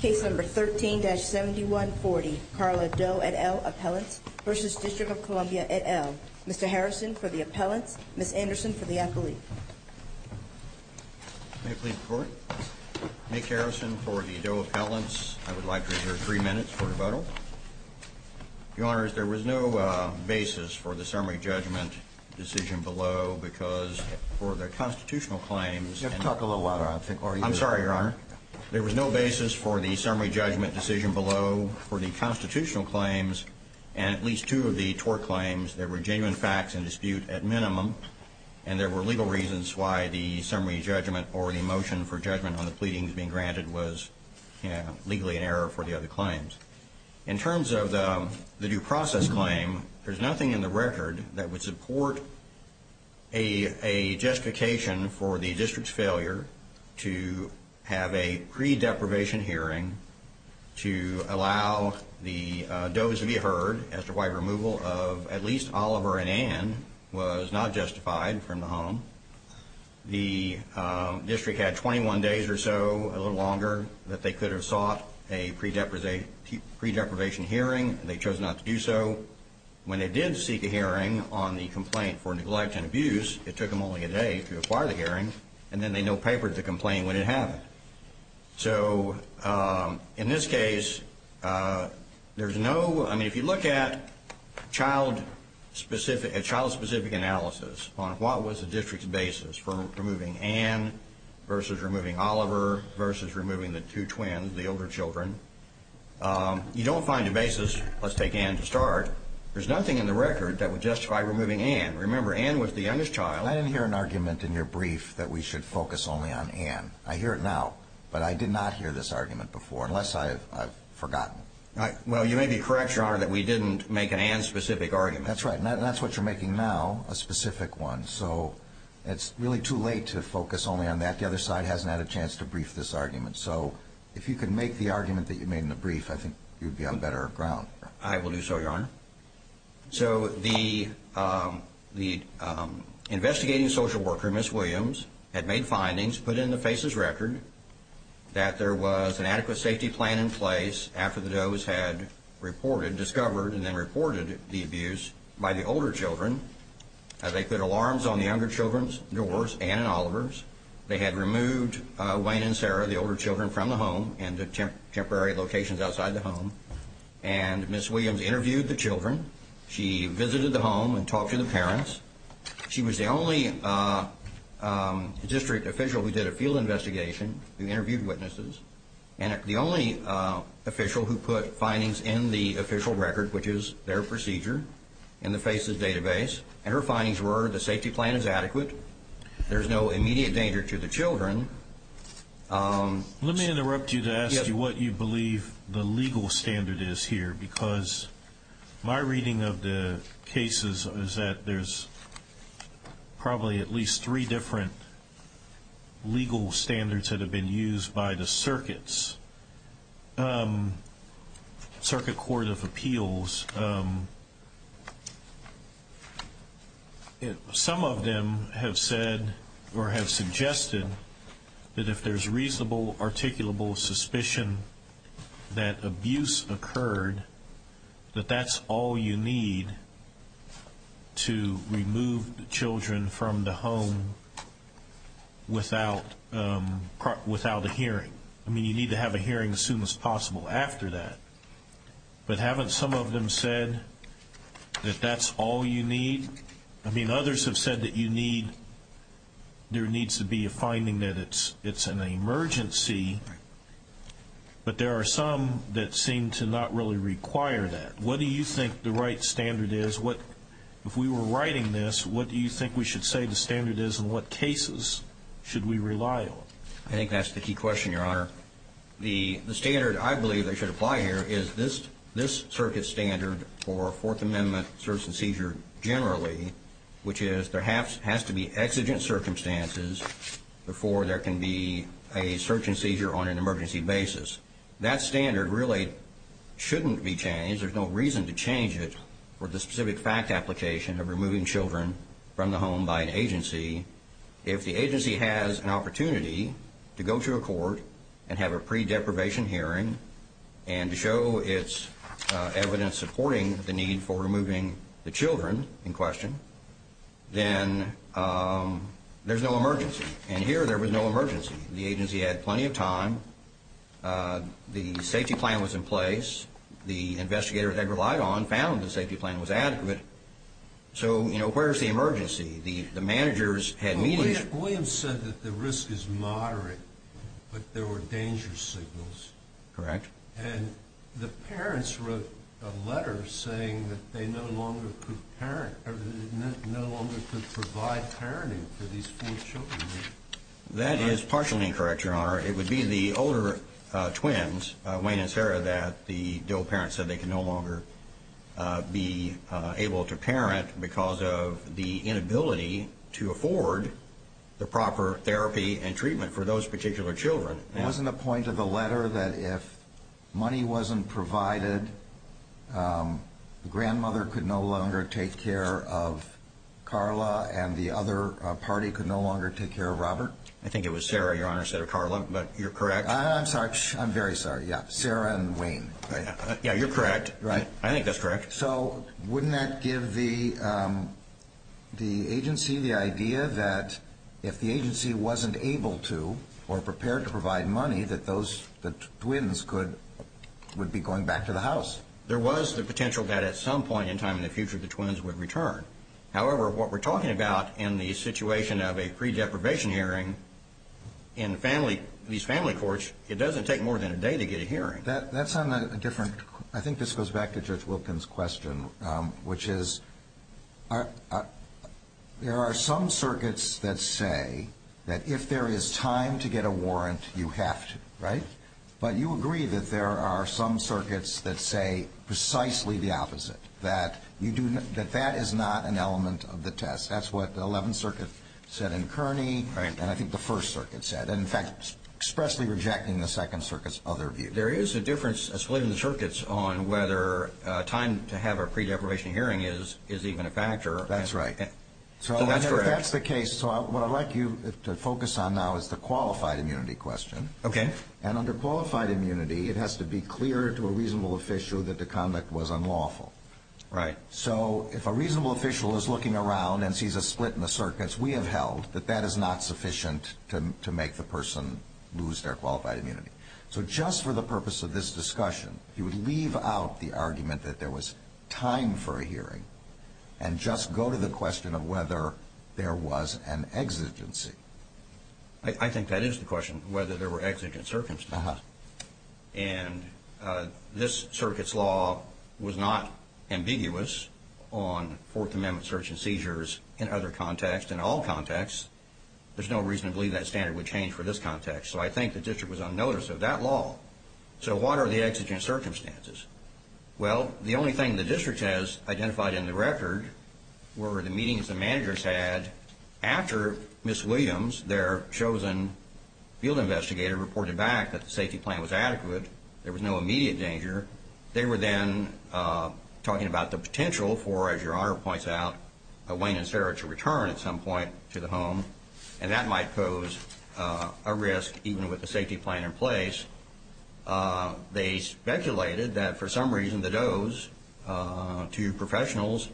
Case 13-7140. Carla Doe et al. Appellant v. DC et al. Mr. Harrison for the Appellants, Ms. Anderson for the Appellate. May it please the Court. Nick Harrison for the Doe Appellant. I would like to reserve three minutes for rebuttal. Your Honors there was no basis for the summary judgment decision below because for the Constitutional claims You have to talk a little louder. I'm sorry, Your Honor. There was no basis for the summary judgment decision below for the Constitutional claims and at least two of the tort claims there were genuine facts in dispute at minimum. And there were legal reasons why the summary judgment or the motion for judgment on the pleadings being granted was legally in error for the other claims. In terms of the due process claim, there's nothing in the record that would support a justification for the district's failure to have a pre-deprivation hearing to allow the Doe's to be heard as to why removal of at least Oliver and Ann was not justified from the home. The district had 21 days or so, a little longer, that they could have sought a pre-deprivation hearing. They chose not to do so. When they did seek a hearing on the complaint for neglect and abuse, it took them only a day to acquire the hearing. And then they no papered the complaint when it happened. So in this case, if you look at a child-specific analysis on what was the district's basis for removing Ann versus removing Oliver versus removing the two twins, the older children, you don't find a basis, let's take Ann to start, there's nothing in the record that would justify removing Ann. Remember, Ann was the youngest child. I didn't hear an argument in your brief that we should focus only on Ann. I hear it now, but I did not hear this argument before, unless I've forgotten. Well, you may be correct, Your Honor, that we didn't make an Ann-specific argument. That's right. And that's what you're making now, a specific one. So it's really too late to focus only on that. The other side hasn't had a chance to brief this argument. So if you could make the argument that you made in the brief, I think you'd be on better ground. I will do so, Your Honor. So the investigating social worker, Ms. Williams, had made findings, put in the FACES record, that there was an adequate safety plan in place after the Doe's had reported, discovered, and then reported the abuse by the older children. They put alarms on the younger children's doors, Ann and Oliver's. They had removed Wayne and Sarah, the older children, from the home and to temporary locations outside the home. And Ms. Williams interviewed the children. She visited the home and talked to the parents. She was the only district official who did a field investigation, who interviewed witnesses, and the only official who put findings in the official record, which is their procedure, in the FACES database. And her findings were, the safety plan is adequate. There's no immediate danger to the children. Let me interrupt you to ask you what you believe the legal standard is here, because my reading of the cases is that there's probably at least three different legal standards that have been used by the circuits, Circuit Court of Appeals. Some of them have said, or have suggested, that if there's reasonable, articulable suspicion that abuse occurred, that that's all you need to remove the children from the home without a hearing. I mean, you need to have a hearing as soon as possible after that. But haven't some of them said that that's all you need? I mean, others have said that you need, there needs to be a finding that it's an emergency. But there are some that seem to not really require that. What do you think the right standard is? What, if we were writing this, what do you think we should say the standard is, and what cases should we rely on? I think that's the key question, Your Honor. The standard I believe that should apply here is this circuit standard for Fourth Amendment search and seizure generally, which is there has to be exigent circumstances before there can be a search and seizure on an emergency basis. That standard really shouldn't be changed. There's no reason to change it for If the agency has an opportunity to go to a court and have a pre-deprivation hearing, and to show it's evidence supporting the need for removing the children in question, then there's no emergency, and here there was no emergency. The agency had plenty of time, the safety plan was in place, the investigator that they relied on found the safety plan was adequate. So, you know, where's the emergency? The managers had meetings. William said that the risk is moderate, but there were danger signals. Correct. And the parents wrote a letter saying that they no longer could parent, or they no longer could provide parenting for these four children. That is partially incorrect, Your Honor. It would be the older twins, Wayne and Sarah, that the DOE parents said they could no longer be able to parent because of the inability to afford the proper therapy and treatment for those particular children. Wasn't the point of the letter that if money wasn't provided, the grandmother could no longer take care of Carla, and the other party could no longer take care of Robert? I think it was Sarah, Your Honor, instead of Carla, but you're correct. I'm sorry, I'm very sorry. Yeah, Sarah and Wayne. Yeah, you're correct. Right. I think that's correct. So wouldn't that give the agency the idea that if the agency wasn't able to, or prepared to provide money, that the twins would be going back to the house? There was the potential that at some point in time in the future, the twins would return. However, what we're talking about in the situation of a pre-deprivation hearing in these family courts, it doesn't take more than a day to get a hearing. That's on a different... I think this goes back to Judge Wilkins' question, which is, there are some circuits that say that if there is time to get a warrant, you have to, right? But you agree that there are some circuits that say precisely the opposite, that that is not an element of the test. That's what the 11th Circuit said in Kearney, and I think the 1st Circuit said, and in fact, expressly rejecting the 2nd Circuit's other view. There is a difference, a split in the circuits, on whether time to have a pre-deprivation hearing is even a factor. That's right. So if that's the case, what I'd like you to focus on now is the qualified immunity question. Okay. And under qualified immunity, it has to be clear to a reasonable official that the conduct was unlawful. Right. So if a reasonable official is looking around and sees a split in the circuits, we have held that that is not sufficient to make the person lose their qualified immunity. So just for the purpose of this discussion, you would leave out the argument that there was time for a hearing and just go to the question of whether there was an exigency. I think that is the question, whether there were exigent circumstances. And this Circuit's law was not ambiguous on Fourth Amendment search and seizures in other contexts. In all contexts, there's no reason to believe that standard would change for this context. So I think the district was unnoticed of that law. So what are the exigent circumstances? Well, the only thing the district has identified in the record were the meetings the managers had after Ms. Williams, their chosen field investigator, reported back that the safety plan was adequate. There was no immediate danger. They were then talking about the potential for, as Your Honor points out, a Wayne and Sarah to return at some point to the home. And that might pose a risk, even with the safety plan in place. They speculated that, for some reason, the dose to professionals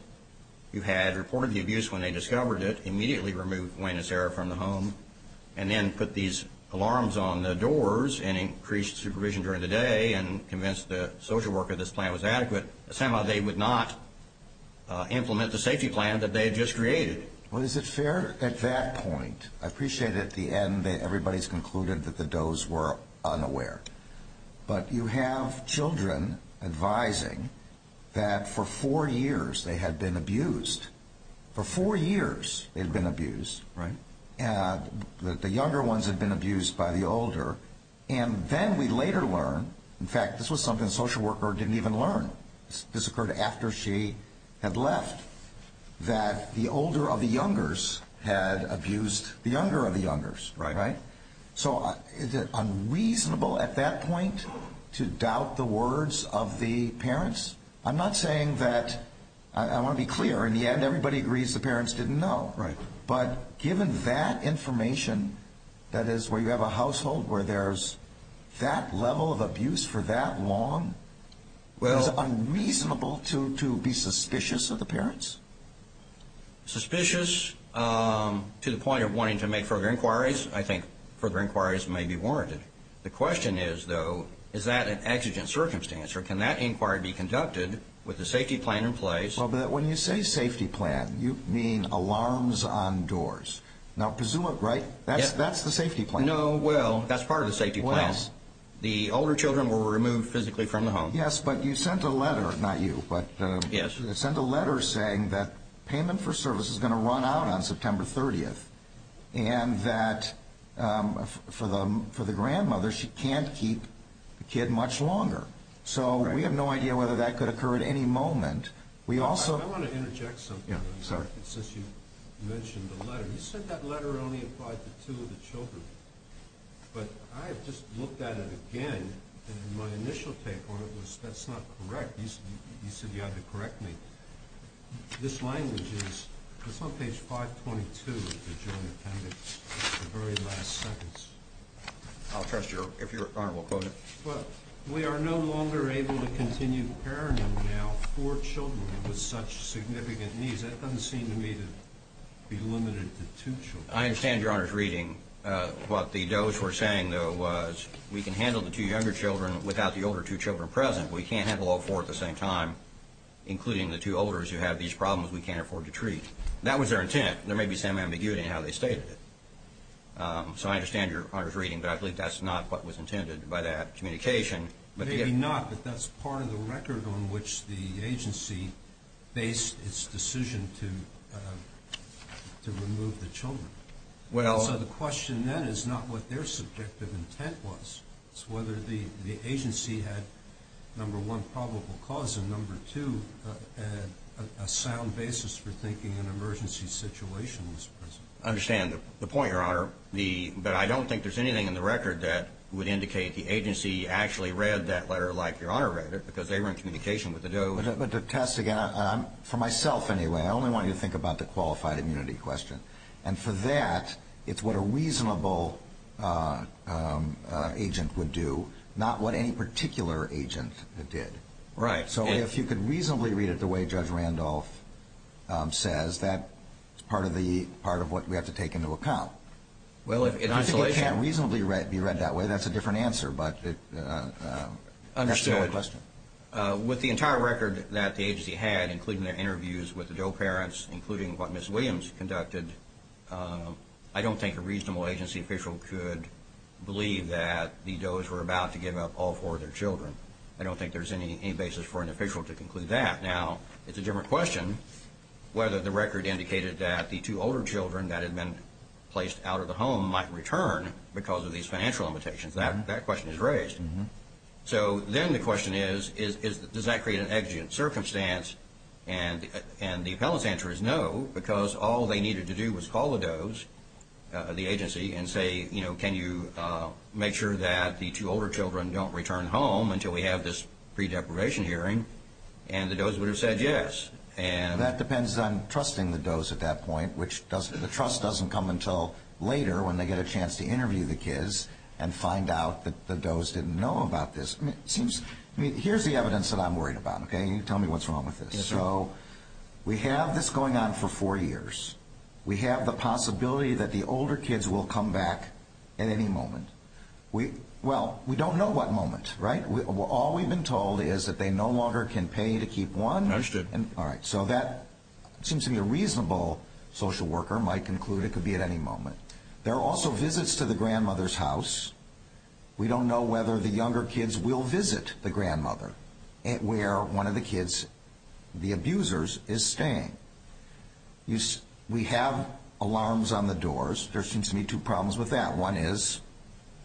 who had reported the abuse when they discovered it immediately removed Wayne and Sarah from the home and then put these alarms on the doors and increased supervision during the day and convinced the social worker this plan was adequate. Somehow, they would not implement the safety plan that they had just created. Well, is it fair at that point? I appreciate at the end that everybody's concluded that the dose were unaware. But you have children advising that for four years they had been abused. For four years, they'd been abused, right? The younger ones had been abused by the older. And then we later learn, in fact, this was something the social worker didn't even learn. This occurred after she had left. That the older of the youngers had abused the younger of the youngers, right? Right. So is it unreasonable at that point to doubt the words of the parents? I'm not saying that. I want to be clear. In the end, everybody agrees the parents didn't know. Right. But given that information, that is, where you have a household where there's that level of abuse for that long. Is it unreasonable to be suspicious of the parents? Suspicious to the point of wanting to make further inquiries. I think further inquiries may be warranted. The question is, though, is that an exigent circumstance? Or can that inquiry be conducted with the safety plan in place? Well, but when you say safety plan, you mean alarms on doors. Now, presumably, that's the safety plan. No. Well, that's part of the safety plans. The older children were removed physically from the home. Yes. But you sent a letter. Not you. But you sent a letter saying that payment for service is going to run out on September 30th. And that for the grandmother, she can't keep the kid much longer. So we have no idea whether that could occur at any moment. We also... I want to interject something since you mentioned the letter. You said that letter only applied to two of the children. But I have just looked at it again. And my initial take on it was, that's not correct. You said you had to correct me. This language is... It's on page 522 of the Joint Appendix, the very last sentence. I'll trust your... If Your Honor will quote it. But we are no longer able to continue parenting now four children with such significant needs. That doesn't seem to me to be limited to two children. I understand Your Honor's reading. What the Doe's were saying though was, we can handle the two younger children without the older two children present. We can't handle all four at the same time, including the two olders who have these problems we can't afford to treat. That was their intent. There may be some ambiguity in how they stated it. So I understand Your Honor's reading. But I believe that's not what was intended by that communication. Maybe not. But that's part of the record on which the agency based its decision to remove the children. So the question then is not what their subjective intent was. It's whether the agency had, number one, probable cause, and number two, a sound basis for thinking an emergency situation was present. I understand the point, Your Honor. But I don't think there's anything in the record that would indicate the agency actually read that letter like Your Honor read it, because they were in communication with the Doe. But to test again, for myself anyway, I only want you to think about the qualified immunity question. And for that, it's what a reasonable agent would do, not what any particular agent did. Right. So if you could reasonably read it the way Judge Randolph says, that's part of what we have to take into account. Well, if it can't reasonably be read that way, that's a different answer. But that's the only question. With the entire record that the agency had, including their interviews with the Doe parents, including what Ms. Williams conducted, I don't think a reasonable agency official could believe that the Does were about to give up all four of their children. I don't think there's any basis for an official to conclude that. Now, it's a different question whether the record indicated that the two older children that had been placed out of the home might return because of these financial limitations. That question is raised. So then the question is, does that create an exigent circumstance? And the appellant's answer is no, because all they needed to do was call the Doe's, the agency, and say, you know, can you make sure that the two older children don't return home until we have this pre-deprivation hearing? And the Doe's would have said yes. That depends on trusting the Doe's at that point, which the trust doesn't come until later when they get a chance to interview the kids and find out that the Doe's didn't know about this. Here's the evidence that I'm worried about, okay? Tell me what's wrong with this. So we have this going on for four years. We have the possibility that the older kids will come back at any moment. Well, we don't know what moment, right? All we've been told is that they no longer can pay to keep one. Understood. All right, so that seems to be a reasonable social worker might conclude it could be at any moment. There are also visits to the grandmother's house. We don't know whether the younger kids will visit the grandmother where one of the kids, the abusers, is staying. We have alarms on the doors. There seems to be two problems with that. One is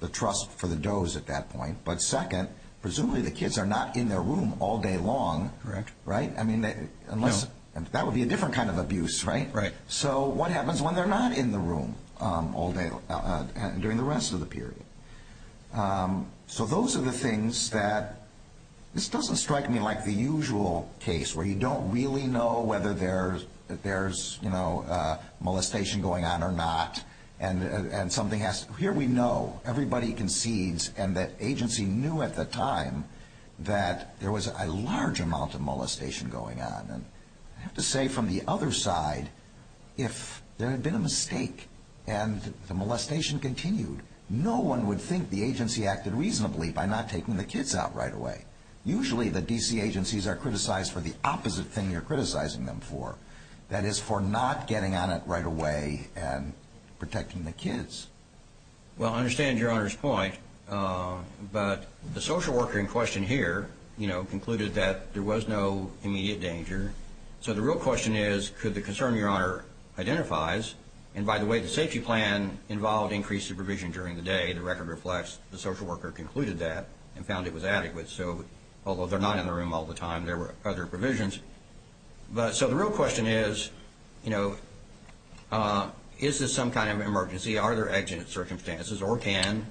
the trust for the Doe's at that point. But second, presumably the kids are not in their room all day long. Correct. Right? I mean, that would be a different kind of abuse, right? Right. So what happens when they're not in the room all day during the rest of the period? Um, so those are the things that this doesn't strike me like the usual case where you don't really know whether there's, there's, you know, uh, molestation going on or not. And, and something has, here we know everybody concedes and that agency knew at the time that there was a large amount of molestation going on. And I have to say from the other side, if there had been a mistake and the molestation continued, no one would think the agency acted reasonably by not taking the kids out right away. Usually the DC agencies are criticized for the opposite thing you're criticizing them for. That is for not getting on it right away and protecting the kids. Well, I understand your Honor's point. But the social worker in question here, you know, concluded that there was no immediate danger. So the real question is, could the concern your Honor identifies? And by the way, the safety plan involved increased supervision during the day. The record reflects the social worker concluded that and found it was adequate. So, although they're not in the room all the time, there were other provisions. But, so the real question is, you know, uh, is this some kind of emergency? Are there accident circumstances or can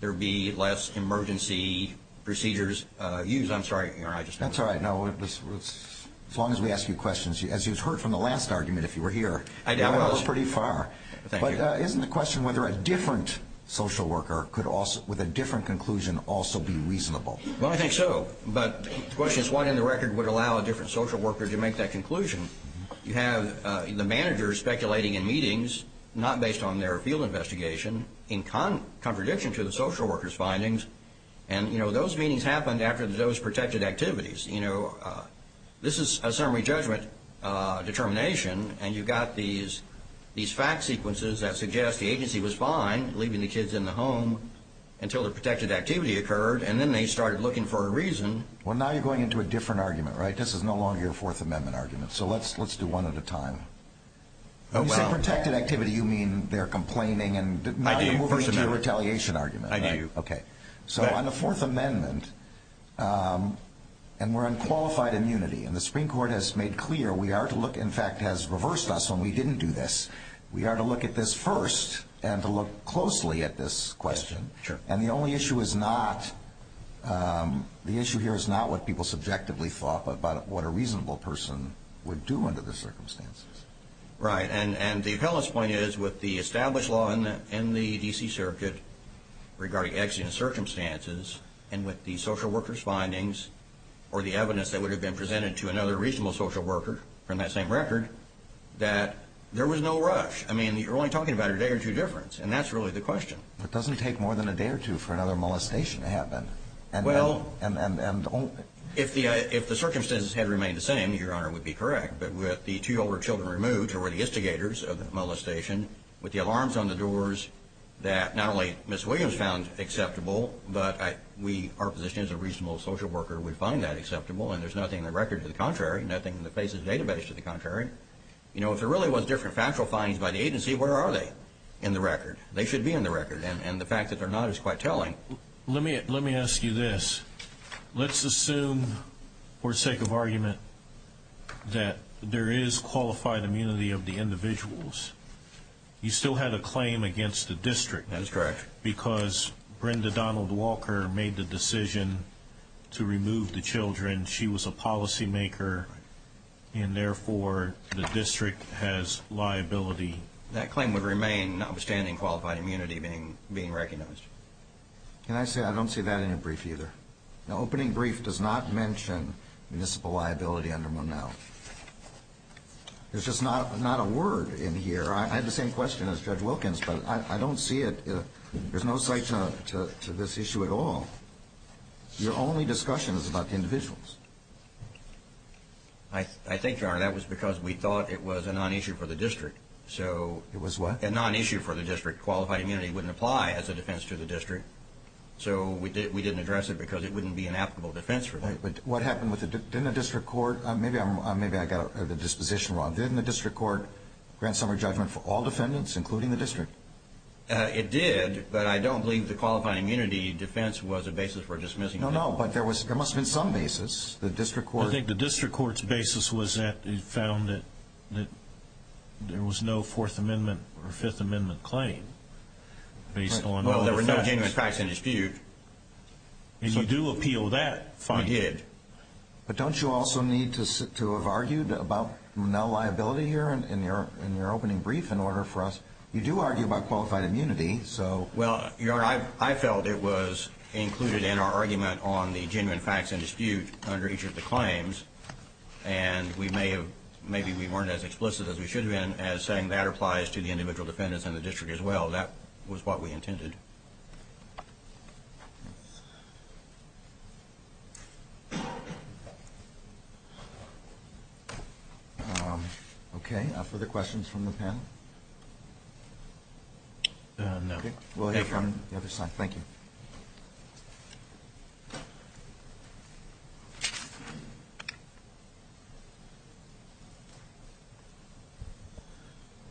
there be less emergency procedures, uh, used? I'm sorry, your Honor, I just. That's all right. No, as long as we ask you questions, as you've heard from the last argument, if you were here. I was pretty far, but isn't the question whether a different social worker could also with a different conclusion also be reasonable? Well, I think so. But the question is, why in the record would allow a different social worker to make that conclusion? You have the managers speculating in meetings, not based on their field investigation, in contradiction to the social worker's findings. And, you know, those meetings happened after those protected activities. You know, uh, this is a summary judgment, uh, determination. And you've got these, these fact sequences that suggest the agency was fine leaving the kids in the home until the protected activity occurred. And then they started looking for a reason. Well, now you're going into a different argument, right? This is no longer your fourth amendment argument. So let's, let's do one at a time. Oh, well. You said protected activity. You mean they're complaining and not moving to the retaliation argument. I do. Okay. So on the fourth amendment, um, and we're on qualified immunity and the Supreme Court has made clear. We are to look, in fact, has reversed us when we didn't do this. We are to look at this first and to look closely at this question. Sure. And the only issue is not, um, the issue here is not what people subjectively thought, but about what a reasonable person would do under the circumstances. Right. And, and the appellant's point is with the established law in the, in the DC circuit regarding exigent circumstances and with the social worker's findings or the evidence that would have been presented to another reasonable social worker from that same record, that there was no rush. I mean, you're only talking about a day or two difference. And that's really the question. It doesn't take more than a day or two for another molestation to happen. And well, and, and, and if the, if the circumstances had remained the same, Your Honor would be correct. But with the two older children removed, who were the instigators of the molestation with the alarms on the doors that not only Ms. Williams found acceptable, but I, we, our position as a reasonable social worker would find that acceptable. And there's nothing in the record to the contrary, nothing in the FACES database to the contrary. You know, if there really was different factual findings by the agency, where are they in the record? They should be in the record. And the fact that they're not is quite telling. Let me ask you this. Let's assume for sake of argument that there is qualified immunity of the individuals you still had a claim against the district. That's correct. Because Brenda Donald Walker made the decision to remove the children. She was a policymaker and therefore the district has liability. That claim would remain notwithstanding qualified immunity being, being recognized. Can I say, I don't see that in your brief either. The opening brief does not mention municipal liability under Monell. There's just not, not a word in here. I had the same question as Judge Wilkins, but I don't see it. There's no site to this issue at all. Your only discussion is about the individuals. I think, Your Honor, that was because we thought it was a non-issue for the district. So. It was what? A non-issue for the district. Qualified immunity wouldn't apply as a defense to the district. So we didn't address it because it wouldn't be an applicable defense for the district. What happened with the, didn't the district court, maybe I got the disposition wrong. Didn't the district court grant summary judgment for all defendants, including the district? It did, but I don't believe the qualified immunity defense was a basis for dismissing. No, no. But there was, there must have been some basis. The district court. I think the district court's basis was that it found that, that there was no Fourth Amendment or Fifth Amendment claim based on. Well, there were no genuine facts in dispute. And you do appeal that finding. We did. But don't you also need to sit to have argued about no liability here in your, in your opening brief in order for us, you do argue about qualified immunity. So. Well, Your Honor, I felt it was included in our argument on the genuine facts in dispute under each of the claims. And we may have, maybe we weren't as explicit as we should have been as saying that applies to the individual defendants in the district as well. That was what we intended. Okay. Are there further questions from the panel? No. Okay. We'll hear from the other side. Thank you.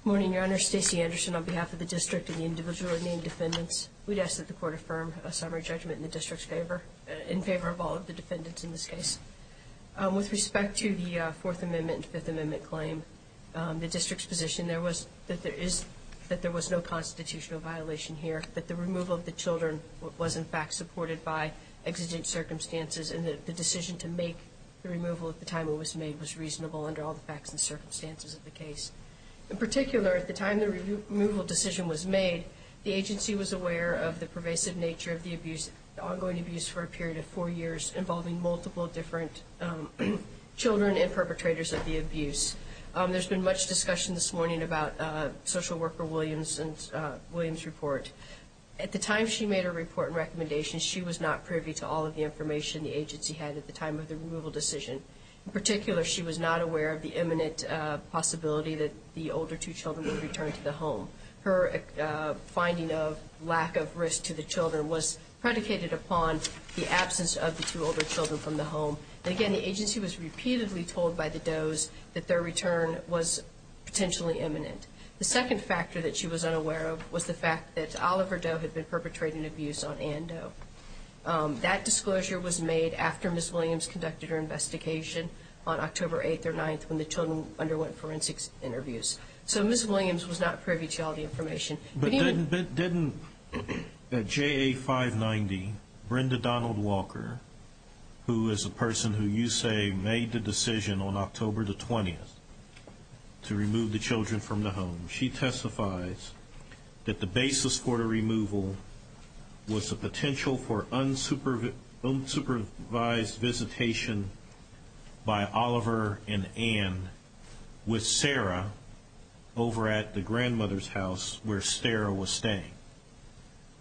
Morning, Your Honor. Stacey Anderson on behalf of the district and the individual named defendants. We'd ask that the court affirm a summary judgment in the district's favor, in favor of all of the defendants in this case. With respect to the Fourth Amendment and Fifth Amendment claim, the district's position, there was, that there is, that there was no constitutional violation here, that the removal of the children was in fact supported by exigent circumstances and that the decision to make the removal at the time it was made was reasonable under all the facts and circumstances of the case. In particular, at the time the removal decision was made, the agency was aware of the pervasive nature of the abuse, the ongoing abuse for a period of four years involving multiple different children and perpetrators of the abuse. There's been much discussion this morning about Social Worker Williams and Williams' report. At the time she made her report and recommendations, she was not privy to all of the information the agency had at the time of the removal decision. In particular, she was not aware of the imminent possibility that the older two children would return to the home. Her finding of lack of risk to the children was predicated upon the absence of the two older children from the home. And again, the agency was repeatedly told by the Does that their return was potentially imminent. The second factor that she was unaware of was the fact that Oliver Doe had been perpetrating abuse on Ann Doe. That disclosure was made after Ms. Williams conducted her investigation on October 8th or 9th when the children underwent forensics interviews. So Ms. Williams was not privy to all the information. But didn't at JA 590, Brenda Donald Walker, who is a person who you say made the decision on October the 20th to remove the children from the home. She testifies that the basis for the removal was the potential for unsupervised visitation by Oliver and Ann with Sarah over at the grandmother's house where Sarah was staying.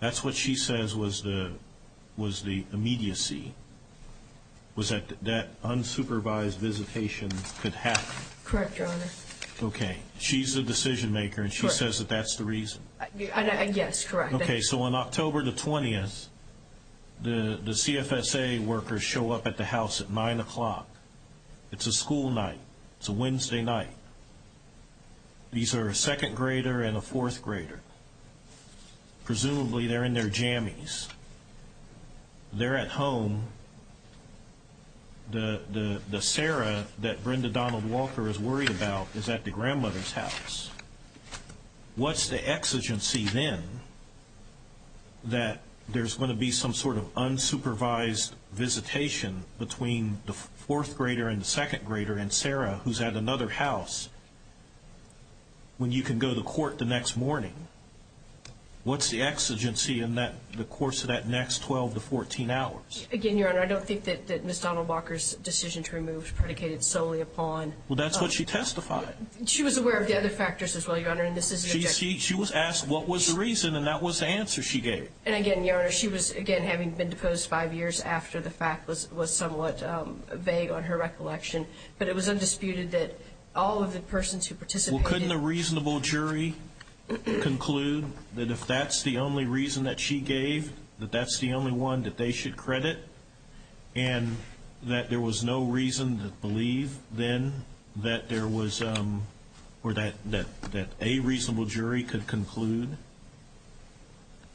That's what she says was the was the immediacy. Was that that unsupervised visitation could happen? Correct, Your Honor. Okay. She's the decision maker, and she says that that's the reason. Yes, correct. Okay, so on October the 20th, the CFSA workers show up at the house at nine o'clock. It's a school night. It's a Wednesday night. These are a second grader and a fourth grader. Presumably they're in their jammies. They're at home. The Sarah that Brenda Donald Walker is worried about is at the grandmother's house. What's the exigency then that there's going to be some sort of unsupervised visitation between the fourth grader and the second grader and Sarah, who's at another house when you can go to court the next morning? What's the exigency in the course of that next 12 to 14 hours? Again, Your Honor, I don't think that Ms. Donald Walker's decision to remove predicated solely upon Well, that's what she testified. She was aware of the other factors as well, Your Honor, and this is an objection. She was asked what was the reason, and that was the answer she gave. And again, Your Honor, she was, again, having been deposed five years after the fact was somewhat vague on her recollection, but it was undisputed that all of the persons who participated Well, couldn't a reasonable jury conclude that if that's the only reason that she gave, that that's the only one that they should credit, and that there was no reason to believe then that there was, or that a reasonable jury could conclude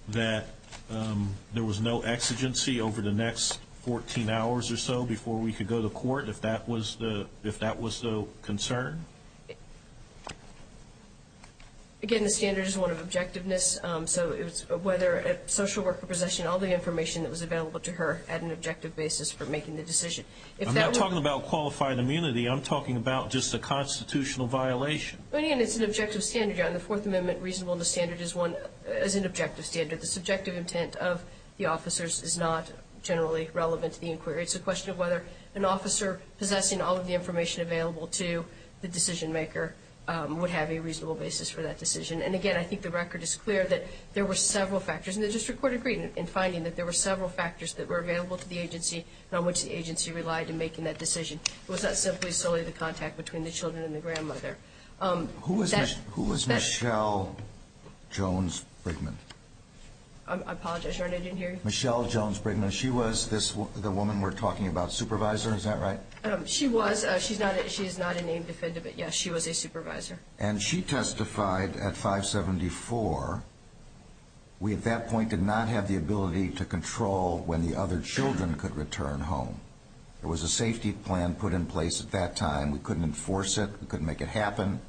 that there was no exigency over the next 14 hours or so before we could go to court, if that was the concern? Again, the standard is one of objectiveness, so it's whether a social worker possessing all the information that was available to her at an objective basis for making the decision. I'm not talking about qualified immunity. I'm talking about just a constitutional violation. But again, it's an objective standard, Your Honor. The Fourth Amendment reasonableness standard is an objective standard. The subjective intent of the officers is not generally relevant to the inquiry. It's a question of whether an officer possessing all of the information available to the decision maker would have a reasonable basis for that decision. And again, I think the record is clear that there were several factors, and the district court agreed in finding that there were several factors that were available to the agency and on which the agency relied in making that decision. It was not simply solely the contact between the children and the grandmother. Who was Michelle Jones Brickman? I apologize, Your Honor, I didn't hear you. Michelle Jones Brickman. She was the woman we're talking about, supervisor, is that right? She was. She's not a named defendant, but yes, she was a supervisor. And she testified at 574, we at that point did not have the ability to control when the children could return home. There was a safety plan put in place at that time. We couldn't enforce it. We couldn't make it happen.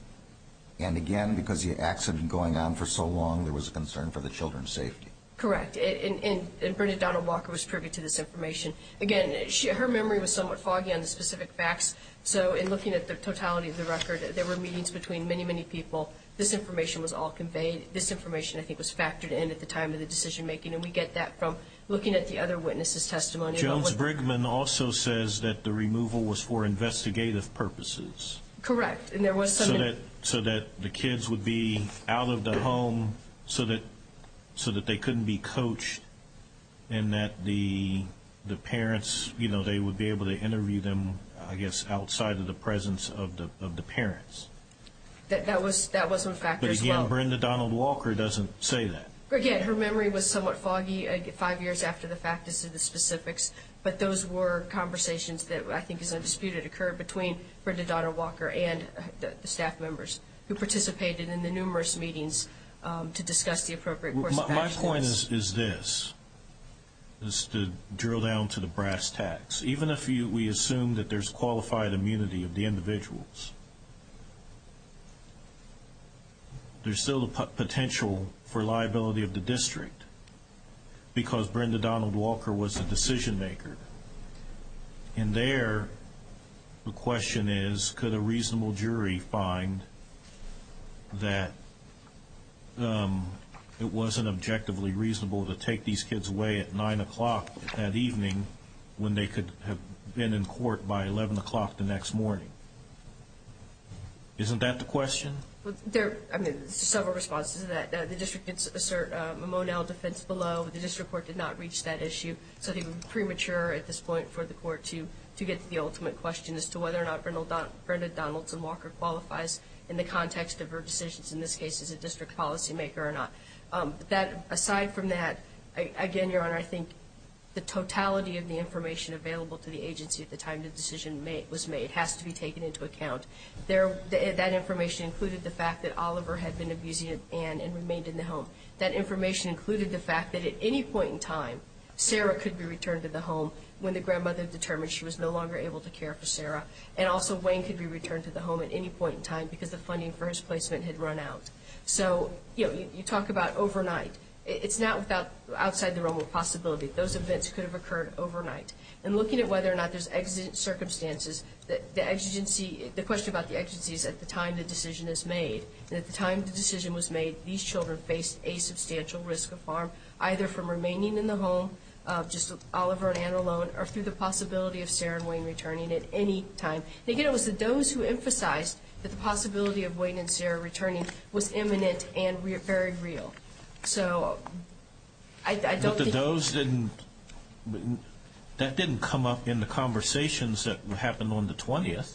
And again, because the accident going on for so long, there was a concern for the children's safety. Correct. And Brenda Donald Walker was privy to this information. Again, her memory was somewhat foggy on the specific facts. So in looking at the totality of the record, there were meetings between many, many people. This information was all conveyed. This information, I think, was factored in at the time of the decision making. And we get that from looking at the other witnesses' testimony. Jones Brickman also says that the removal was for investigative purposes. Correct. And there was some... So that the kids would be out of the home so that they couldn't be coached and that the parents, you know, they would be able to interview them, I guess, outside of the presence of the parents. That was one factor as well. But again, Brenda Donald Walker doesn't say that. But again, her memory was somewhat foggy five years after the fact as to the specifics. But those were conversations that I think is undisputed occurred between Brenda Donald Walker and the staff members who participated in the numerous meetings to discuss the appropriate course of action. My point is this, is to drill down to the brass tacks. Even if we assume that there's qualified immunity of the individuals, there's still potential for liability of the district. Because Brenda Donald Walker was the decision maker. And there, the question is, could a reasonable jury find that it wasn't objectively reasonable to take these kids away at 9 o'clock that evening when they could have been in court by 11 o'clock the next morning? Isn't that the question? There are several responses to that. The district did assert a Monell defense below. The district court did not reach that issue. So it would be premature at this point for the court to get to the ultimate question as to whether or not Brenda Donaldson Walker qualifies in the context of her decisions, in this case, as a district policymaker or not. Aside from that, again, Your Honor, I think the totality of the information available to the agency at the time the decision was made has to be taken into account. That information included the fact that Oliver had been abusing Anne and remained in the home. That information included the fact that at any point in time, Sarah could be returned to the home when the grandmother determined she was no longer able to care for Sarah. And also, Wayne could be returned to the home at any point in time because the funding for his placement had run out. So you talk about overnight. It's not outside the realm of possibility. Those events could have occurred overnight. And looking at whether or not there's exigent circumstances, the question about the exigency is at the time the decision is made. And at the time the decision was made, these children faced a substantial risk of harm, either from remaining in the home, just Oliver and Anne alone, or through the possibility of Sarah and Wayne returning at any time. And again, it was the Does who emphasized that the possibility of Wayne and Sarah returning was imminent and very real. So I don't think— That didn't come up in the conversations that happened on the 20th.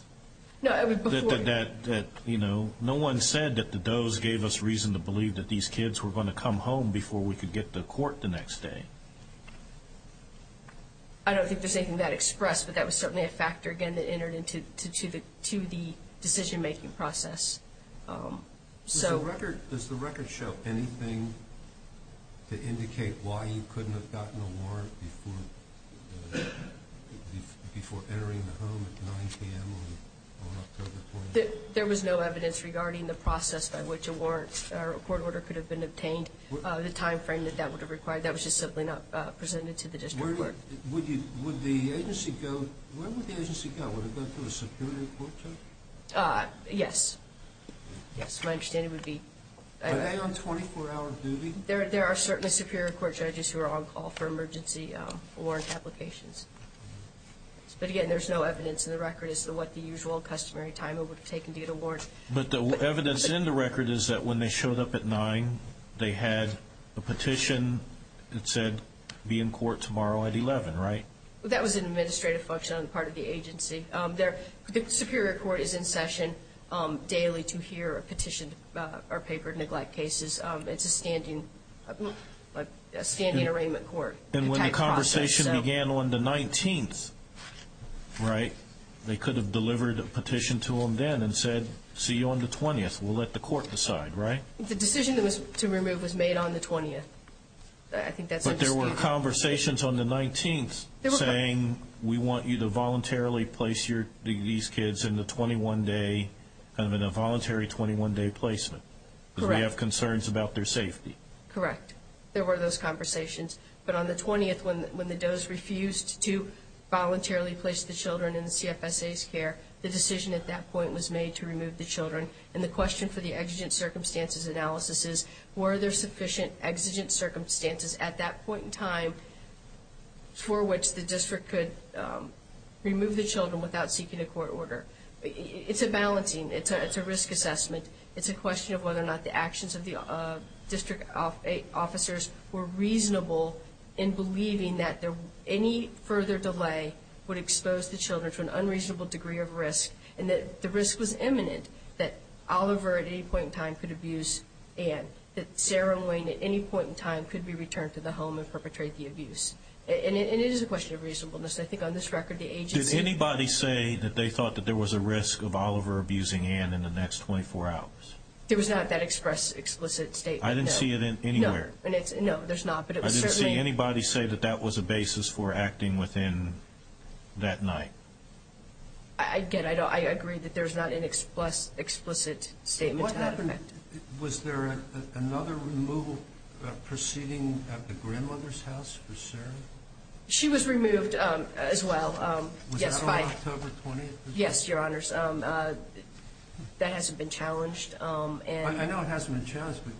No, I mean, before— That, you know, no one said that the Does gave us reason to believe that these kids were going to come home before we could get to court the next day. I don't think there's anything that expressed, but that was certainly a factor, again, that entered into the decision-making process. So— Does the record—does the record show anything to indicate why you couldn't have gotten a warrant before entering the home at 9 p.m. on October 20th? There was no evidence regarding the process by which a warrant or a court order could have been obtained, the timeframe that that would have required. That was just simply not presented to the district court. Would you—would the agency go—where would the agency go? Would it go to a superior court judge? Yes. Yes, my understanding would be— Are they on 24-hour duty? There are certainly superior court judges who are on call for emergency warrant applications. But again, there's no evidence in the record as to what the usual customary time it would have taken to get a warrant. But the evidence in the record is that when they showed up at 9, they had a petition that said, be in court tomorrow at 11, right? That was an administrative function on the part of the agency. The superior court is in session daily to hear a petition or paper neglect cases. It's a standing—a standing arraignment court. And when the conversation began on the 19th, right, they could have delivered a petition to them then and said, see you on the 20th. We'll let the court decide, right? The decision to remove was made on the 20th. I think that's— But there were conversations on the 19th saying, we want you to voluntarily place these kids in the 21-day—kind of in a voluntary 21-day placement. Correct. We have concerns about their safety. Correct. There were those conversations. But on the 20th, when the DOES refused to voluntarily place the children in the CFSA's care, the decision at that point was made to remove the children. And the question for the exigent circumstances analysis is, were there sufficient exigent circumstances at that point in time for which the district could remove the children without seeking a court order? It's a balancing. It's a risk assessment. It's a question of whether or not the actions of the district officers were reasonable in believing that any further delay would expose the children to an unreasonable degree of risk and that the risk was imminent that Oliver at any point in time could abuse Anne, that Sarah and Wayne at any point in time could be returned to the home and perpetrate the abuse. And it is a question of reasonableness. I think on this record, the agency— Did anybody say that they thought that there was a risk of Oliver abusing Anne in the next 24 hours? There was not that express, explicit statement. I didn't see it anywhere. No, there's not, but it was certainly— I didn't see anybody say that that was a basis for acting within that night. Again, I agree that there's not an explicit statement to that effect. Was there another removal proceeding at the grandmother's house for Sarah? She was removed as well. Was that on October 20th? Yes, Your Honors. That hasn't been challenged. I know it hasn't been challenged, but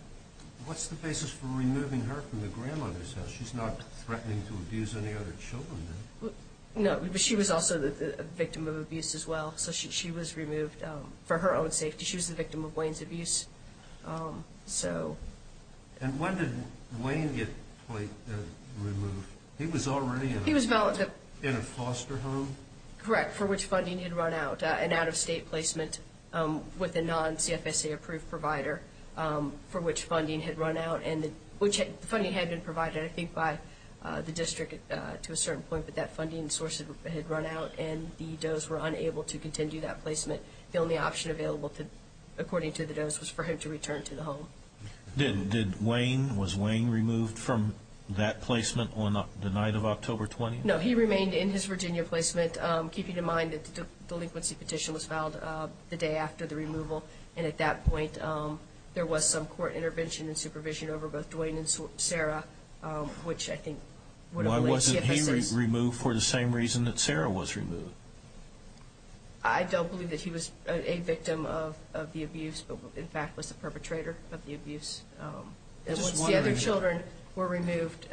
what's the basis for removing her from the grandmother's house? She's not threatening to abuse any other children, is she? No, but she was also a victim of abuse as well. So she was removed for her own safety. She was the victim of Wayne's abuse. And when did Wayne get removed? He was already in a foster home? Correct, for which funding had run out. An out-of-state placement with a non-CFSA-approved provider, for which funding had run out. And the funding had been provided, I think, by the district to a certain point, but that funding source had run out, and the Does were unable to continue that placement. The only option available, according to the Does, was for him to return to the home. Did Wayne—was Wayne removed from that placement on the night of October 20th? No, he remained in his Virginia placement, keeping in mind that the delinquency petition was filed the day after the removal. And at that point, there was some court intervention and supervision over both Dwayne and Sarah, which I think— Why wasn't he removed for the same reason that Sarah was removed? I don't believe that he was a victim of the abuse, but in fact was the perpetrator of the abuse. Once the other children were removed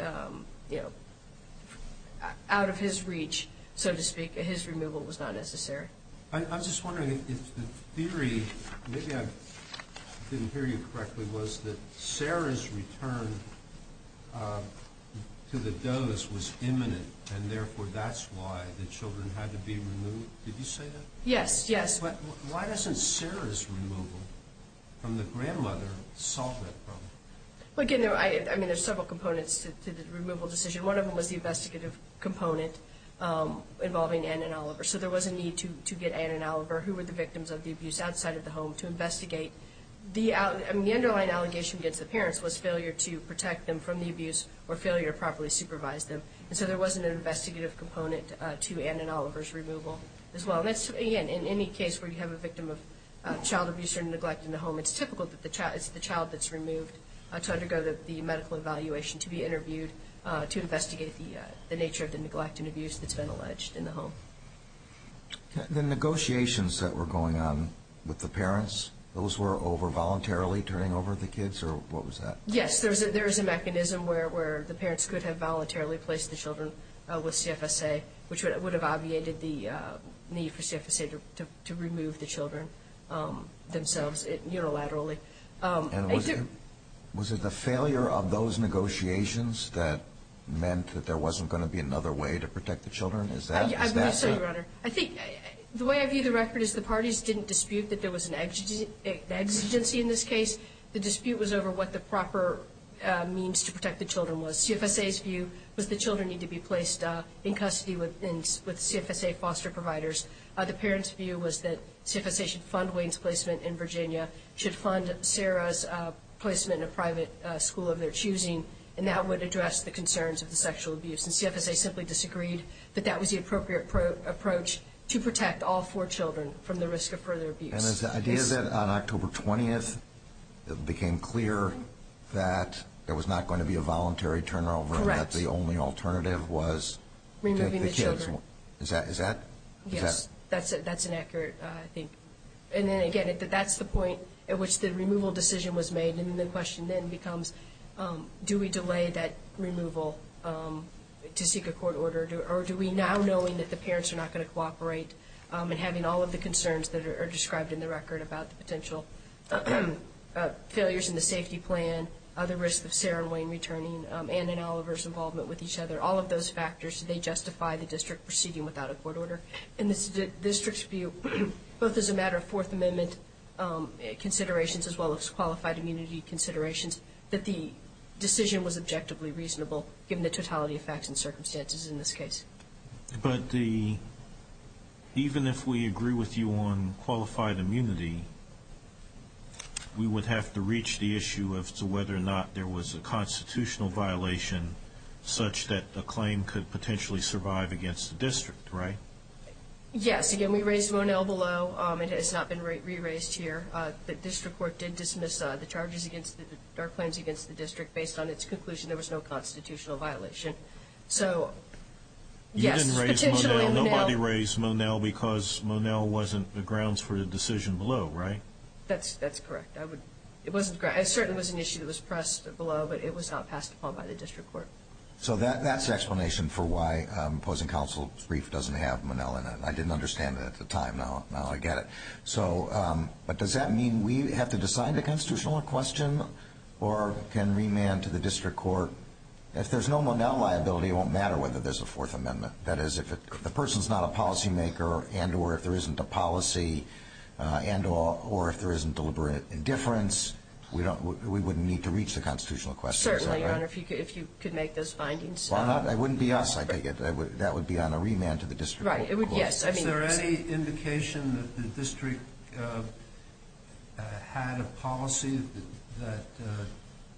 out of his reach, so to speak, his removal was not necessary. I'm just wondering if the theory—maybe I didn't hear you correctly—was that Sarah's return to the Does was imminent, and therefore that's why the children had to be removed. Did you say that? Yes, yes. Why doesn't Sarah's removal from the grandmother solve that problem? I mean, there's several components to the removal decision. One of them was the investigative component involving Anne and Oliver. So there was a need to get Anne and Oliver, who were the victims of the abuse, outside of the home to investigate. The underlying allegation against the parents was failure to protect them from the abuse or failure to properly supervise them. And so there was an investigative component to Anne and Oliver's removal as well. Again, in any case where you have a victim of child abuse or neglect in the home, it's typical that it's the child that's removed to undergo the medical evaluation to be interviewed to investigate the nature of the neglect and abuse that's been alleged in the home. The negotiations that were going on with the parents, those were over voluntarily turning over the kids, or what was that? Yes, there is a mechanism where the parents could have voluntarily placed the children with CFSA, which would have obviated the need for CFSA to remove the children themselves, unilaterally. Was it the failure of those negotiations that meant that there wasn't going to be another way to protect the children? Is that? I believe so, Your Honor. I think the way I view the record is the parties didn't dispute that there was an exigency in this case. The dispute was over what the proper means to protect the children was. CFSA's view was the children need to be placed in custody with CFSA foster providers. The parents' view was that CFSA should fund Wayne's placement in Virginia, should fund Sarah's placement in a private school of their choosing, and that would address the concerns of the sexual abuse. And CFSA simply disagreed that that was the appropriate approach to protect all four children from the risk of further abuse. And is the idea that on October 20th it became clear that there was not going to be a voluntary turnover and that the only alternative was to the kids? Removing the children. Is that? Yes. That's an accurate, I think. And then, again, that's the point at which the removal decision was made. And the question then becomes, do we delay that removal to seek a court order, or do we now, knowing that the parents are not going to cooperate and having all of the concerns that are described in the record about the potential failures in the safety plan, the risk of Sarah and Wayne returning, and in Oliver's involvement with each other, all of those factors, do they justify the district proceeding without a court order? And the district's view, both as a matter of Fourth Amendment considerations as well as qualified immunity considerations, that the decision was objectively reasonable, given the totality of facts and circumstances in this case. But the, even if we agree with you on qualified immunity, we would have to reach the issue of whether or not there was a constitutional violation such that the claim could potentially survive against the district, right? Yes. Again, we raised Monell below. It has not been re-raised here. The district court did dismiss the charges against the, or claims against the district based on its conclusion there was no constitutional violation. So, yes, it's potentially Monell. Nobody raised Monell because Monell wasn't the grounds for the decision below, right? That's correct. It certainly was an issue that was pressed below, but it was not passed upon by the district court. So that's explanation for why opposing counsel's brief doesn't have Monell in it. I didn't understand it at the time, now I get it. So, but does that mean we have to decide the constitutional question, or can remand to the district court? If there's no Monell liability, it won't matter whether there's a Fourth Amendment. That is, if the person's not a policymaker, and or if there isn't a policy, and or if there isn't deliberate indifference, we don't, we wouldn't need to reach the constitutional question, is that right? Certainly, Your Honor, if you could make those findings. Why not? It wouldn't be us, I take it. That would be on a remand to the district court. Right, it would, yes. Is there any indication that the district had a policy that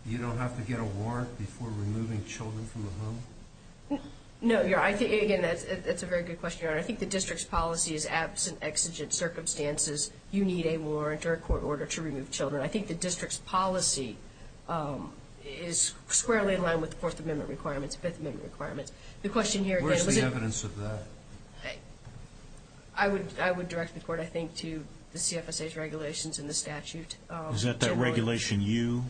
you don't have to get a warrant before removing children from the home? No, Your Honor, I think, again, that's a very good question, Your Honor. I think the district's policy is absent exigent circumstances. You need a warrant or a court order to remove children. I think the district's policy is squarely in line with the Fourth Amendment requirements, Fifth Amendment requirements. The question here, again, was it Where's the evidence of that? I would direct the court, I think, to the CFSA's regulations in the statute. Is that that regulation you?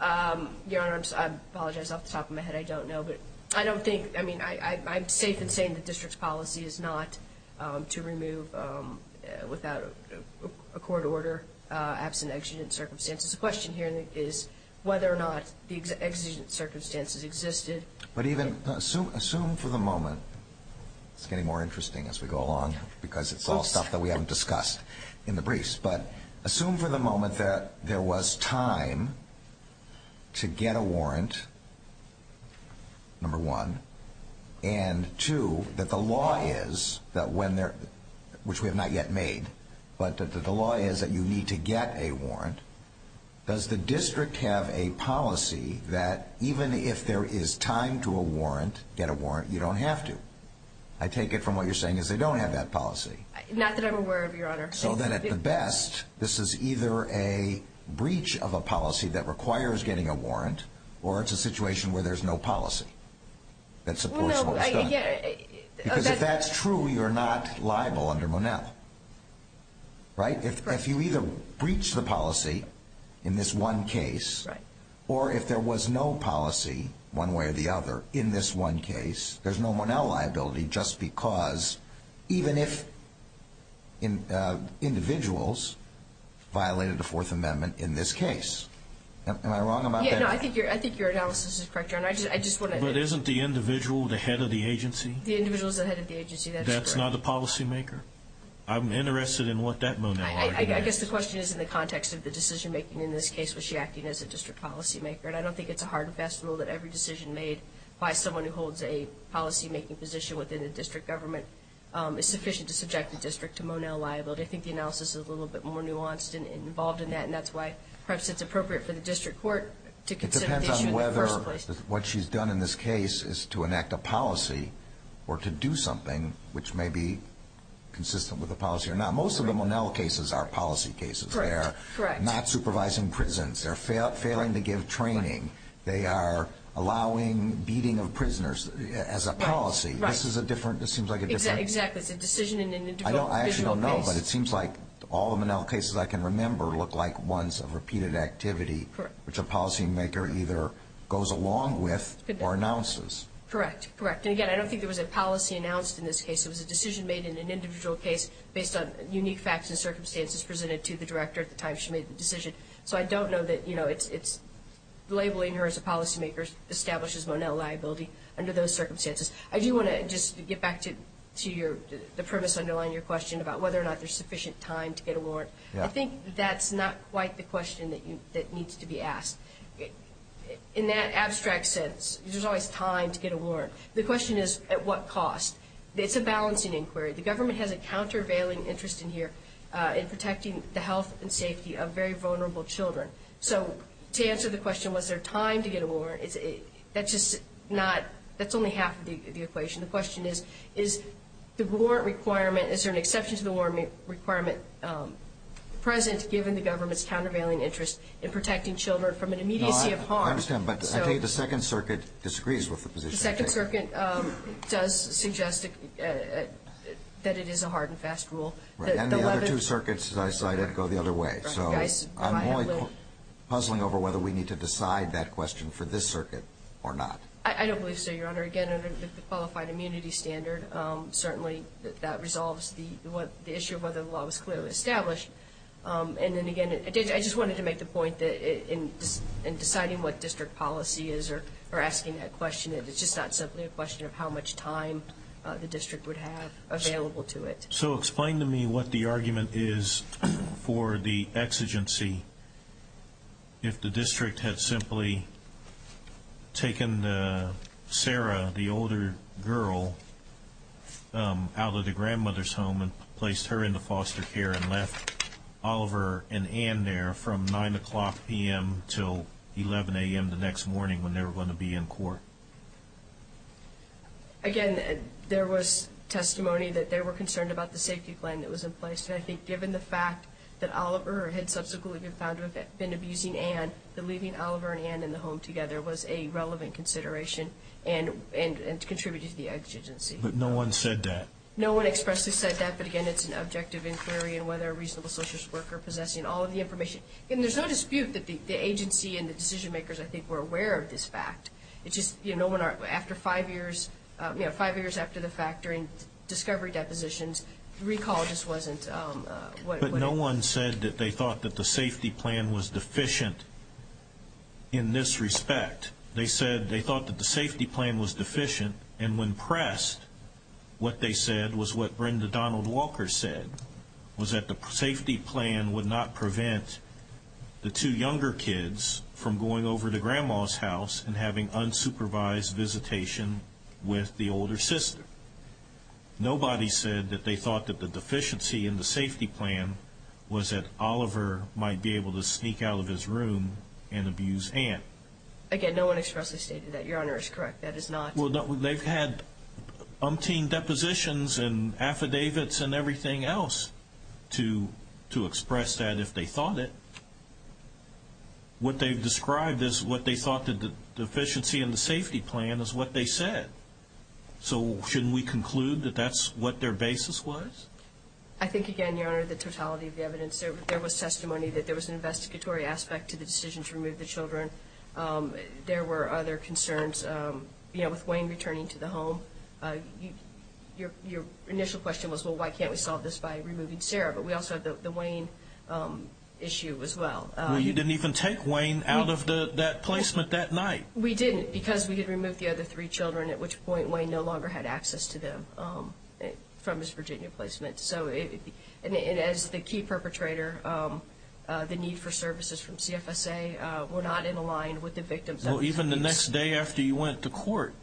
Your Honor, I apologize off the top of my head. I don't know, but I don't think, I mean, I'm safe in saying the district's policy is not to remove without a court order, absent exigent circumstances. The question here is whether or not the exigent circumstances existed. But even, assume for the moment, it's getting more interesting as we go along, because it's all stuff that we haven't discussed in the briefs. But assume for the moment that there was time to get a warrant, number one. And two, that the law is that when they're, which we have not yet made, but the law is that you need to get a warrant. Does the district have a policy that even if there is time to a warrant, get a warrant, you don't have to? I take it from what you're saying is they don't have that policy. Not that I'm aware of, Your Honor. So then at the best, this is either a breach of a policy that requires getting a warrant, or it's a situation where there's no policy. That supports what was done. No, I, again, that's- Because if that's true, you're not liable under Monell, right? If you either breach the policy in this one case, or if there was no policy one way or the other in this one case, there's no Monell liability just because, even if individuals violated the Fourth Amendment in this case. Am I wrong about that? Yeah, no, I think your analysis is correct, Your Honor. I just want to- But isn't the individual the head of the agency? The individual is the head of the agency. That's correct. That's not the policymaker? I'm interested in what that Monell argument is. I guess the question is in the context of the decision-making in this case. Was she acting as a district policymaker? And I don't think it's a hard and fast rule that every decision made by someone who holds a policymaking position within the district government is sufficient to subject the district to Monell liability. I think the analysis is a little bit more nuanced and involved in that. And that's why perhaps it's appropriate for the district court to consider the issue in the first place. What she's done in this case is to enact a policy or to do something which may be consistent with the policy or not. Most of the Monell cases are policy cases. Correct, correct. Not supervising prisons. They're failing to give training. They are allowing beating of prisoners as a policy. This is a different, this seems like a different- Exactly. It's a decision in an individual case. I actually don't know, but it seems like all the Monell cases I can remember look like ones of repeated activity, which a policymaker either goes along with or announces. Correct, correct. And again, I don't think there was a policy announced in this case. It was a decision made in an individual case based on unique facts and circumstances presented to the director at the time she made the decision. So I don't know that, you know, it's labeling her as a policymaker establishes Monell liability under those circumstances. I do want to just get back to the premise underlying your question about whether or not there's sufficient time to get a warrant. I think that's not quite the question that needs to be asked. In that abstract sense, there's always time to get a warrant. The question is, at what cost? It's a balancing inquiry. The government has a countervailing interest in here in protecting the health and safety of very vulnerable children. So to answer the question, was there time to get a warrant, that's just not, that's only half of the equation. The question is, is the warrant requirement, is there an exception to the warrant requirement present, given the government's countervailing interest in protecting children from an immediacy of harm? I understand, but I think the second circuit disagrees with the position. The second circuit does suggest that it is a hard and fast rule. Right, and the other two circuits, as I cited, go the other way. So I'm only puzzling over whether we need to decide that question for this circuit or not. I don't believe so, Your Honor. Again, under the qualified immunity standard, certainly that resolves the issue of whether the law was clearly established. And then again, I just wanted to make the point that in deciding what district policy is, or asking that question, it's just not simply a question of how much time the district would have available to it. So explain to me what the argument is for the exigency. If the district had simply taken Sarah, the older girl, out of the grandmother's home and placed her into foster care and left Oliver and Ann there from 9 o'clock p.m. till 11 a.m. the next morning when they were going to be in court. Again, there was testimony that they were concerned about the safety plan that was in place. And I think given the fact that Oliver had subsequently been found to have been abusing Ann, that leaving Oliver and Ann in the home together was a relevant consideration and contributed to the exigency. But no one said that. No one expressly said that, but again, it's an objective inquiry and whether a reasonable social worker possessing all of the information. And there's no dispute that the agency and the decision makers, I think, were aware of this fact. It's just, you know, after five years, you know, discovery depositions, recall just wasn't... But no one said that they thought that the safety plan was deficient in this respect. They said they thought that the safety plan was deficient. And when pressed, what they said was what Brenda Donald Walker said, was that the safety plan would not prevent the two younger kids from going over to grandma's house and having unsupervised visitation with the older sister. Nobody said that they thought that the deficiency in the safety plan was that Oliver might be able to sneak out of his room and abuse Ann. Again, no one expressly stated that. Your Honor is correct. That is not... Well, they've had umpteen depositions and affidavits and everything else to express that if they thought it. What they've described is what they thought the deficiency in the safety plan is what they said. So shouldn't we conclude that that's what their basis was? I think again, Your Honor, the totality of the evidence there was testimony that there was an investigatory aspect to the decision to remove the children. There were other concerns, you know, with Wayne returning to the home. Your initial question was, well, why can't we solve this by removing Sarah? But we also have the Wayne issue as well. You didn't even take Wayne out of that placement that night. We didn't because we had removed the other three children, at which point Wayne no longer had access to them from his Virginia placement. So as the key perpetrator, the need for services from CFSA were not in align with the victim's... Well, even the next day after you went to court,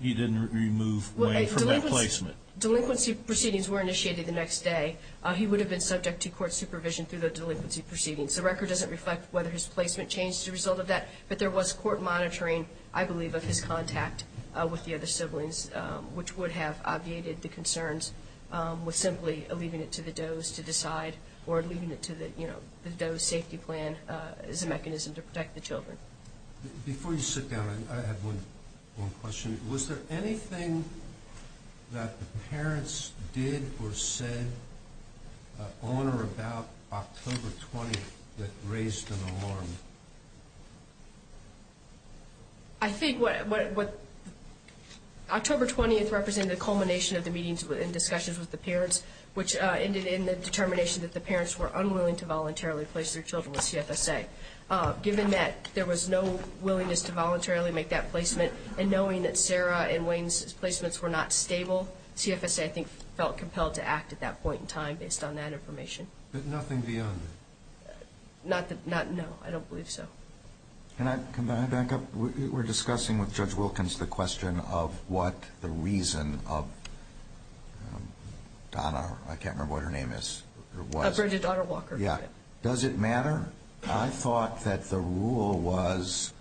you didn't remove Wayne from that placement. Delinquency proceedings were initiated the next day. He would have been subject to court supervision through the delinquency proceedings. The record doesn't reflect whether his placement changed as a result of that, but there was court monitoring, I believe, of his contact with the other siblings, which would have obviated the concerns with simply leaving it to the Doe's to decide or leaving it to the, you know, the Doe's safety plan as a mechanism to protect the children. Before you sit down, I have one question. Was there anything that the parents did or said on or about October 20th that raised an alarm? I think what... October 20th represented the culmination of the meetings and discussions with the parents, which ended in the determination that the parents were unwilling to voluntarily place their children with CFSA. Given that there was no willingness to voluntarily make that placement and knowing that Sarah and Wayne's placements were not stable, CFSA, I think, felt compelled to act at that point in time based on that information. But nothing beyond that? Not... No, I don't believe so. Can I come back up? We're discussing with Judge Wilkins the question of what the reason of... Donna, I can't remember what her name is. Bridget Daughter-Walker. Yeah. Does it matter? I thought that the rule was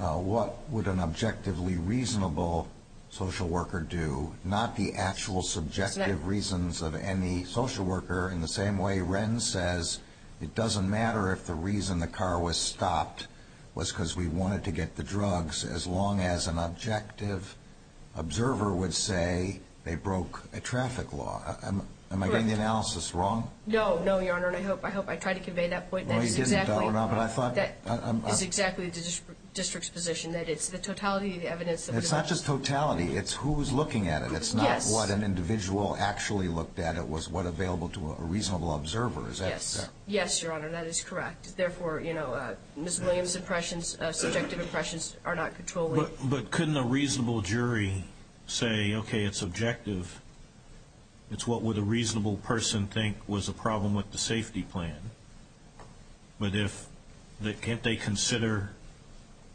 what would an objectively reasonable social worker do, not the actual subjective reasons of any social worker in the same way that the car was stopped was because we wanted to get the drugs, as long as an objective observer would say they broke a traffic law. Am I getting the analysis wrong? No, no, Your Honor, and I hope I tried to convey that point. No, you didn't, Donna, but I thought... That is exactly the district's position, that it's the totality of the evidence... It's not just totality. It's who was looking at it. It's not what an individual actually looked at. It was what available to a reasonable observer. Is that correct? Yes, Your Honor. That is correct. Therefore, Ms. Williams' subjective impressions are not controllable. But couldn't a reasonable jury say, okay, it's objective. It's what would a reasonable person think was a problem with the safety plan. But can't they consider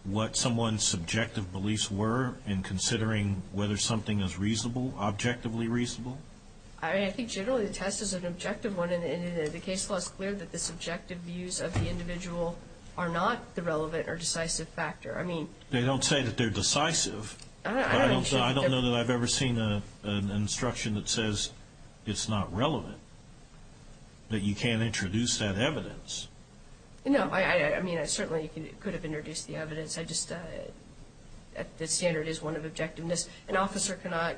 what someone's subjective beliefs were in considering whether something is reasonable, objectively reasonable? I think generally the test is an objective one, and the case law is clear that the subjective views of the individual are not the relevant or decisive factor. I mean... They don't say that they're decisive, but I don't know that I've ever seen an instruction that says it's not relevant, that you can't introduce that evidence. No, I mean, I certainly could have introduced the evidence. I just... The standard is one of objectiveness. An officer cannot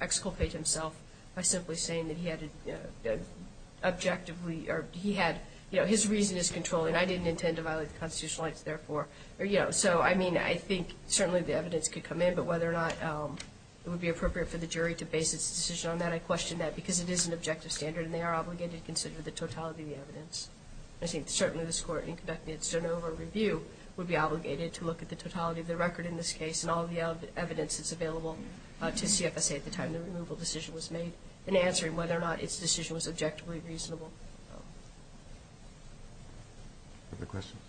exculpate himself by simply saying that he had objectively... His reason is controlling. I didn't intend to violate the constitutional rights, therefore... So, I mean, I think certainly the evidence could come in, but whether or not it would be appropriate for the jury to base its decision on that, I question that because it is an objective standard, and they are obligated to consider the totality of the evidence. I think certainly this Court, in conducting its Genova review, would be obligated to look at the totality of the record in this case and all the evidence that's available to CFSA at the time the removal decision was made in answering whether or not its decision was objectively reasonable. Other questions?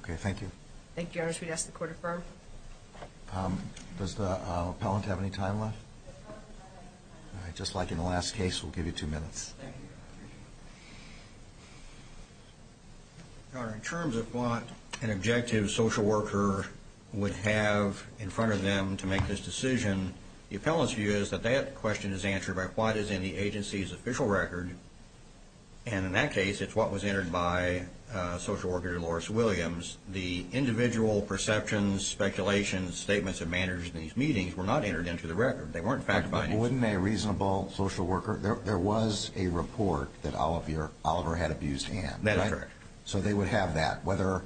Okay, thank you. Thank you, Your Honor. Should we ask the Court to affirm? Does the appellant have any time left? Just like in the last case, we'll give you two minutes. Your Honor, in terms of what an objective social worker would have in front of them to make this decision, the appellant's view is that that question is answered by what is in the agency's official record, and in that case, it's what was entered by social worker Dolores Williams. The individual perceptions, speculations, statements of manners in these meetings were not entered into the record. They weren't fact-finding. Wouldn't a reasonable social worker... There was a report that Oliver had abused Anne. That's correct. So they would have that. Whether it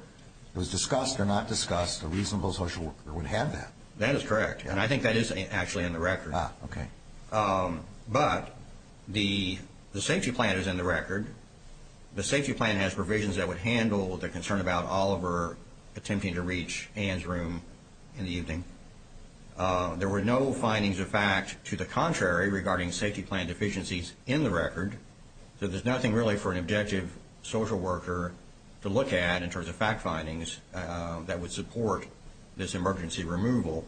was discussed or not discussed, a reasonable social worker would have that. That is correct, and I think that is actually in the record. Ah, okay. But the safety plan is in the record. The safety plan has provisions that would handle the concern about Oliver attempting to reach Anne's room in the evening. There were no findings of fact to the contrary regarding safety plan deficiencies in the record, so there's nothing really for an objective social worker to look at in terms of fact findings that would support this emergency removal.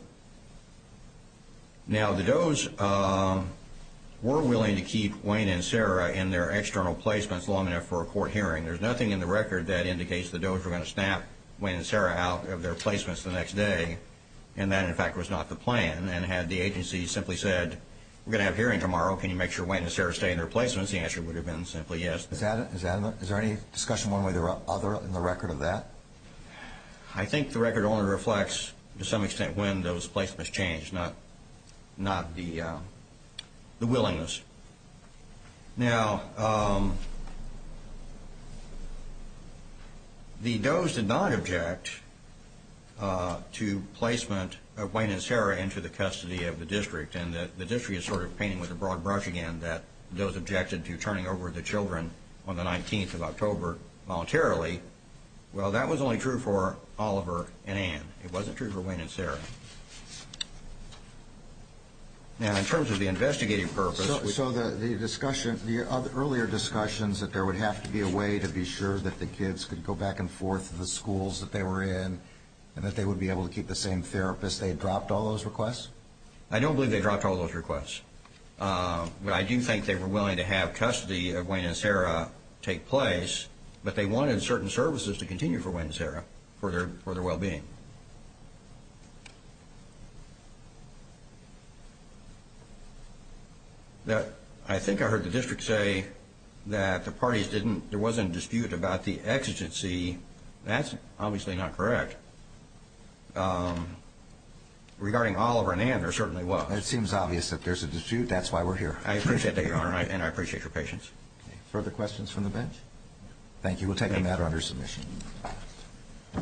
Now, the Doe's were willing to keep Wayne and Sarah in their external placements long enough for a court hearing. There's nothing in the record that indicates the Doe's were going to snap Wayne and Sarah out of their placements the next day, and that, in fact, was not the plan, and had the agency simply said, we're going to have a hearing tomorrow. Can you make sure Wayne and Sarah stay in their placements? The answer would have been simply yes. Is there any discussion one way or the other in the record of that? I think the record only reflects, to some extent, when those placements changed, not the willingness. Now, the Doe's did not object to placement of Wayne and Sarah into the custody of the district, and that the district is sort of painting with a broad brush again that the Doe's objected to turning over the children on the 19th of October voluntarily. Well, that was only true for Oliver and Ann. It wasn't true for Wayne and Sarah. Now, in terms of the investigative purpose... So the earlier discussions that there would have to be a way to be sure that the kids could go back and forth to the schools that they were in, and that they would be able to keep the same therapist, they dropped all those requests? I don't believe they dropped all those requests. But I do think they were willing to have custody of Wayne and Sarah take place, but they wanted certain services to continue for Wayne and Sarah for their well-being. I think I heard the district say that the parties didn't... There wasn't a dispute about the exigency. That's obviously not correct. Regarding Oliver and Ann, there certainly was. It seems obvious that there's a dispute. That's why we're here. I appreciate that, Your Honor, and I appreciate your patience. Further questions from the bench? Thank you. We'll take a matter under submission.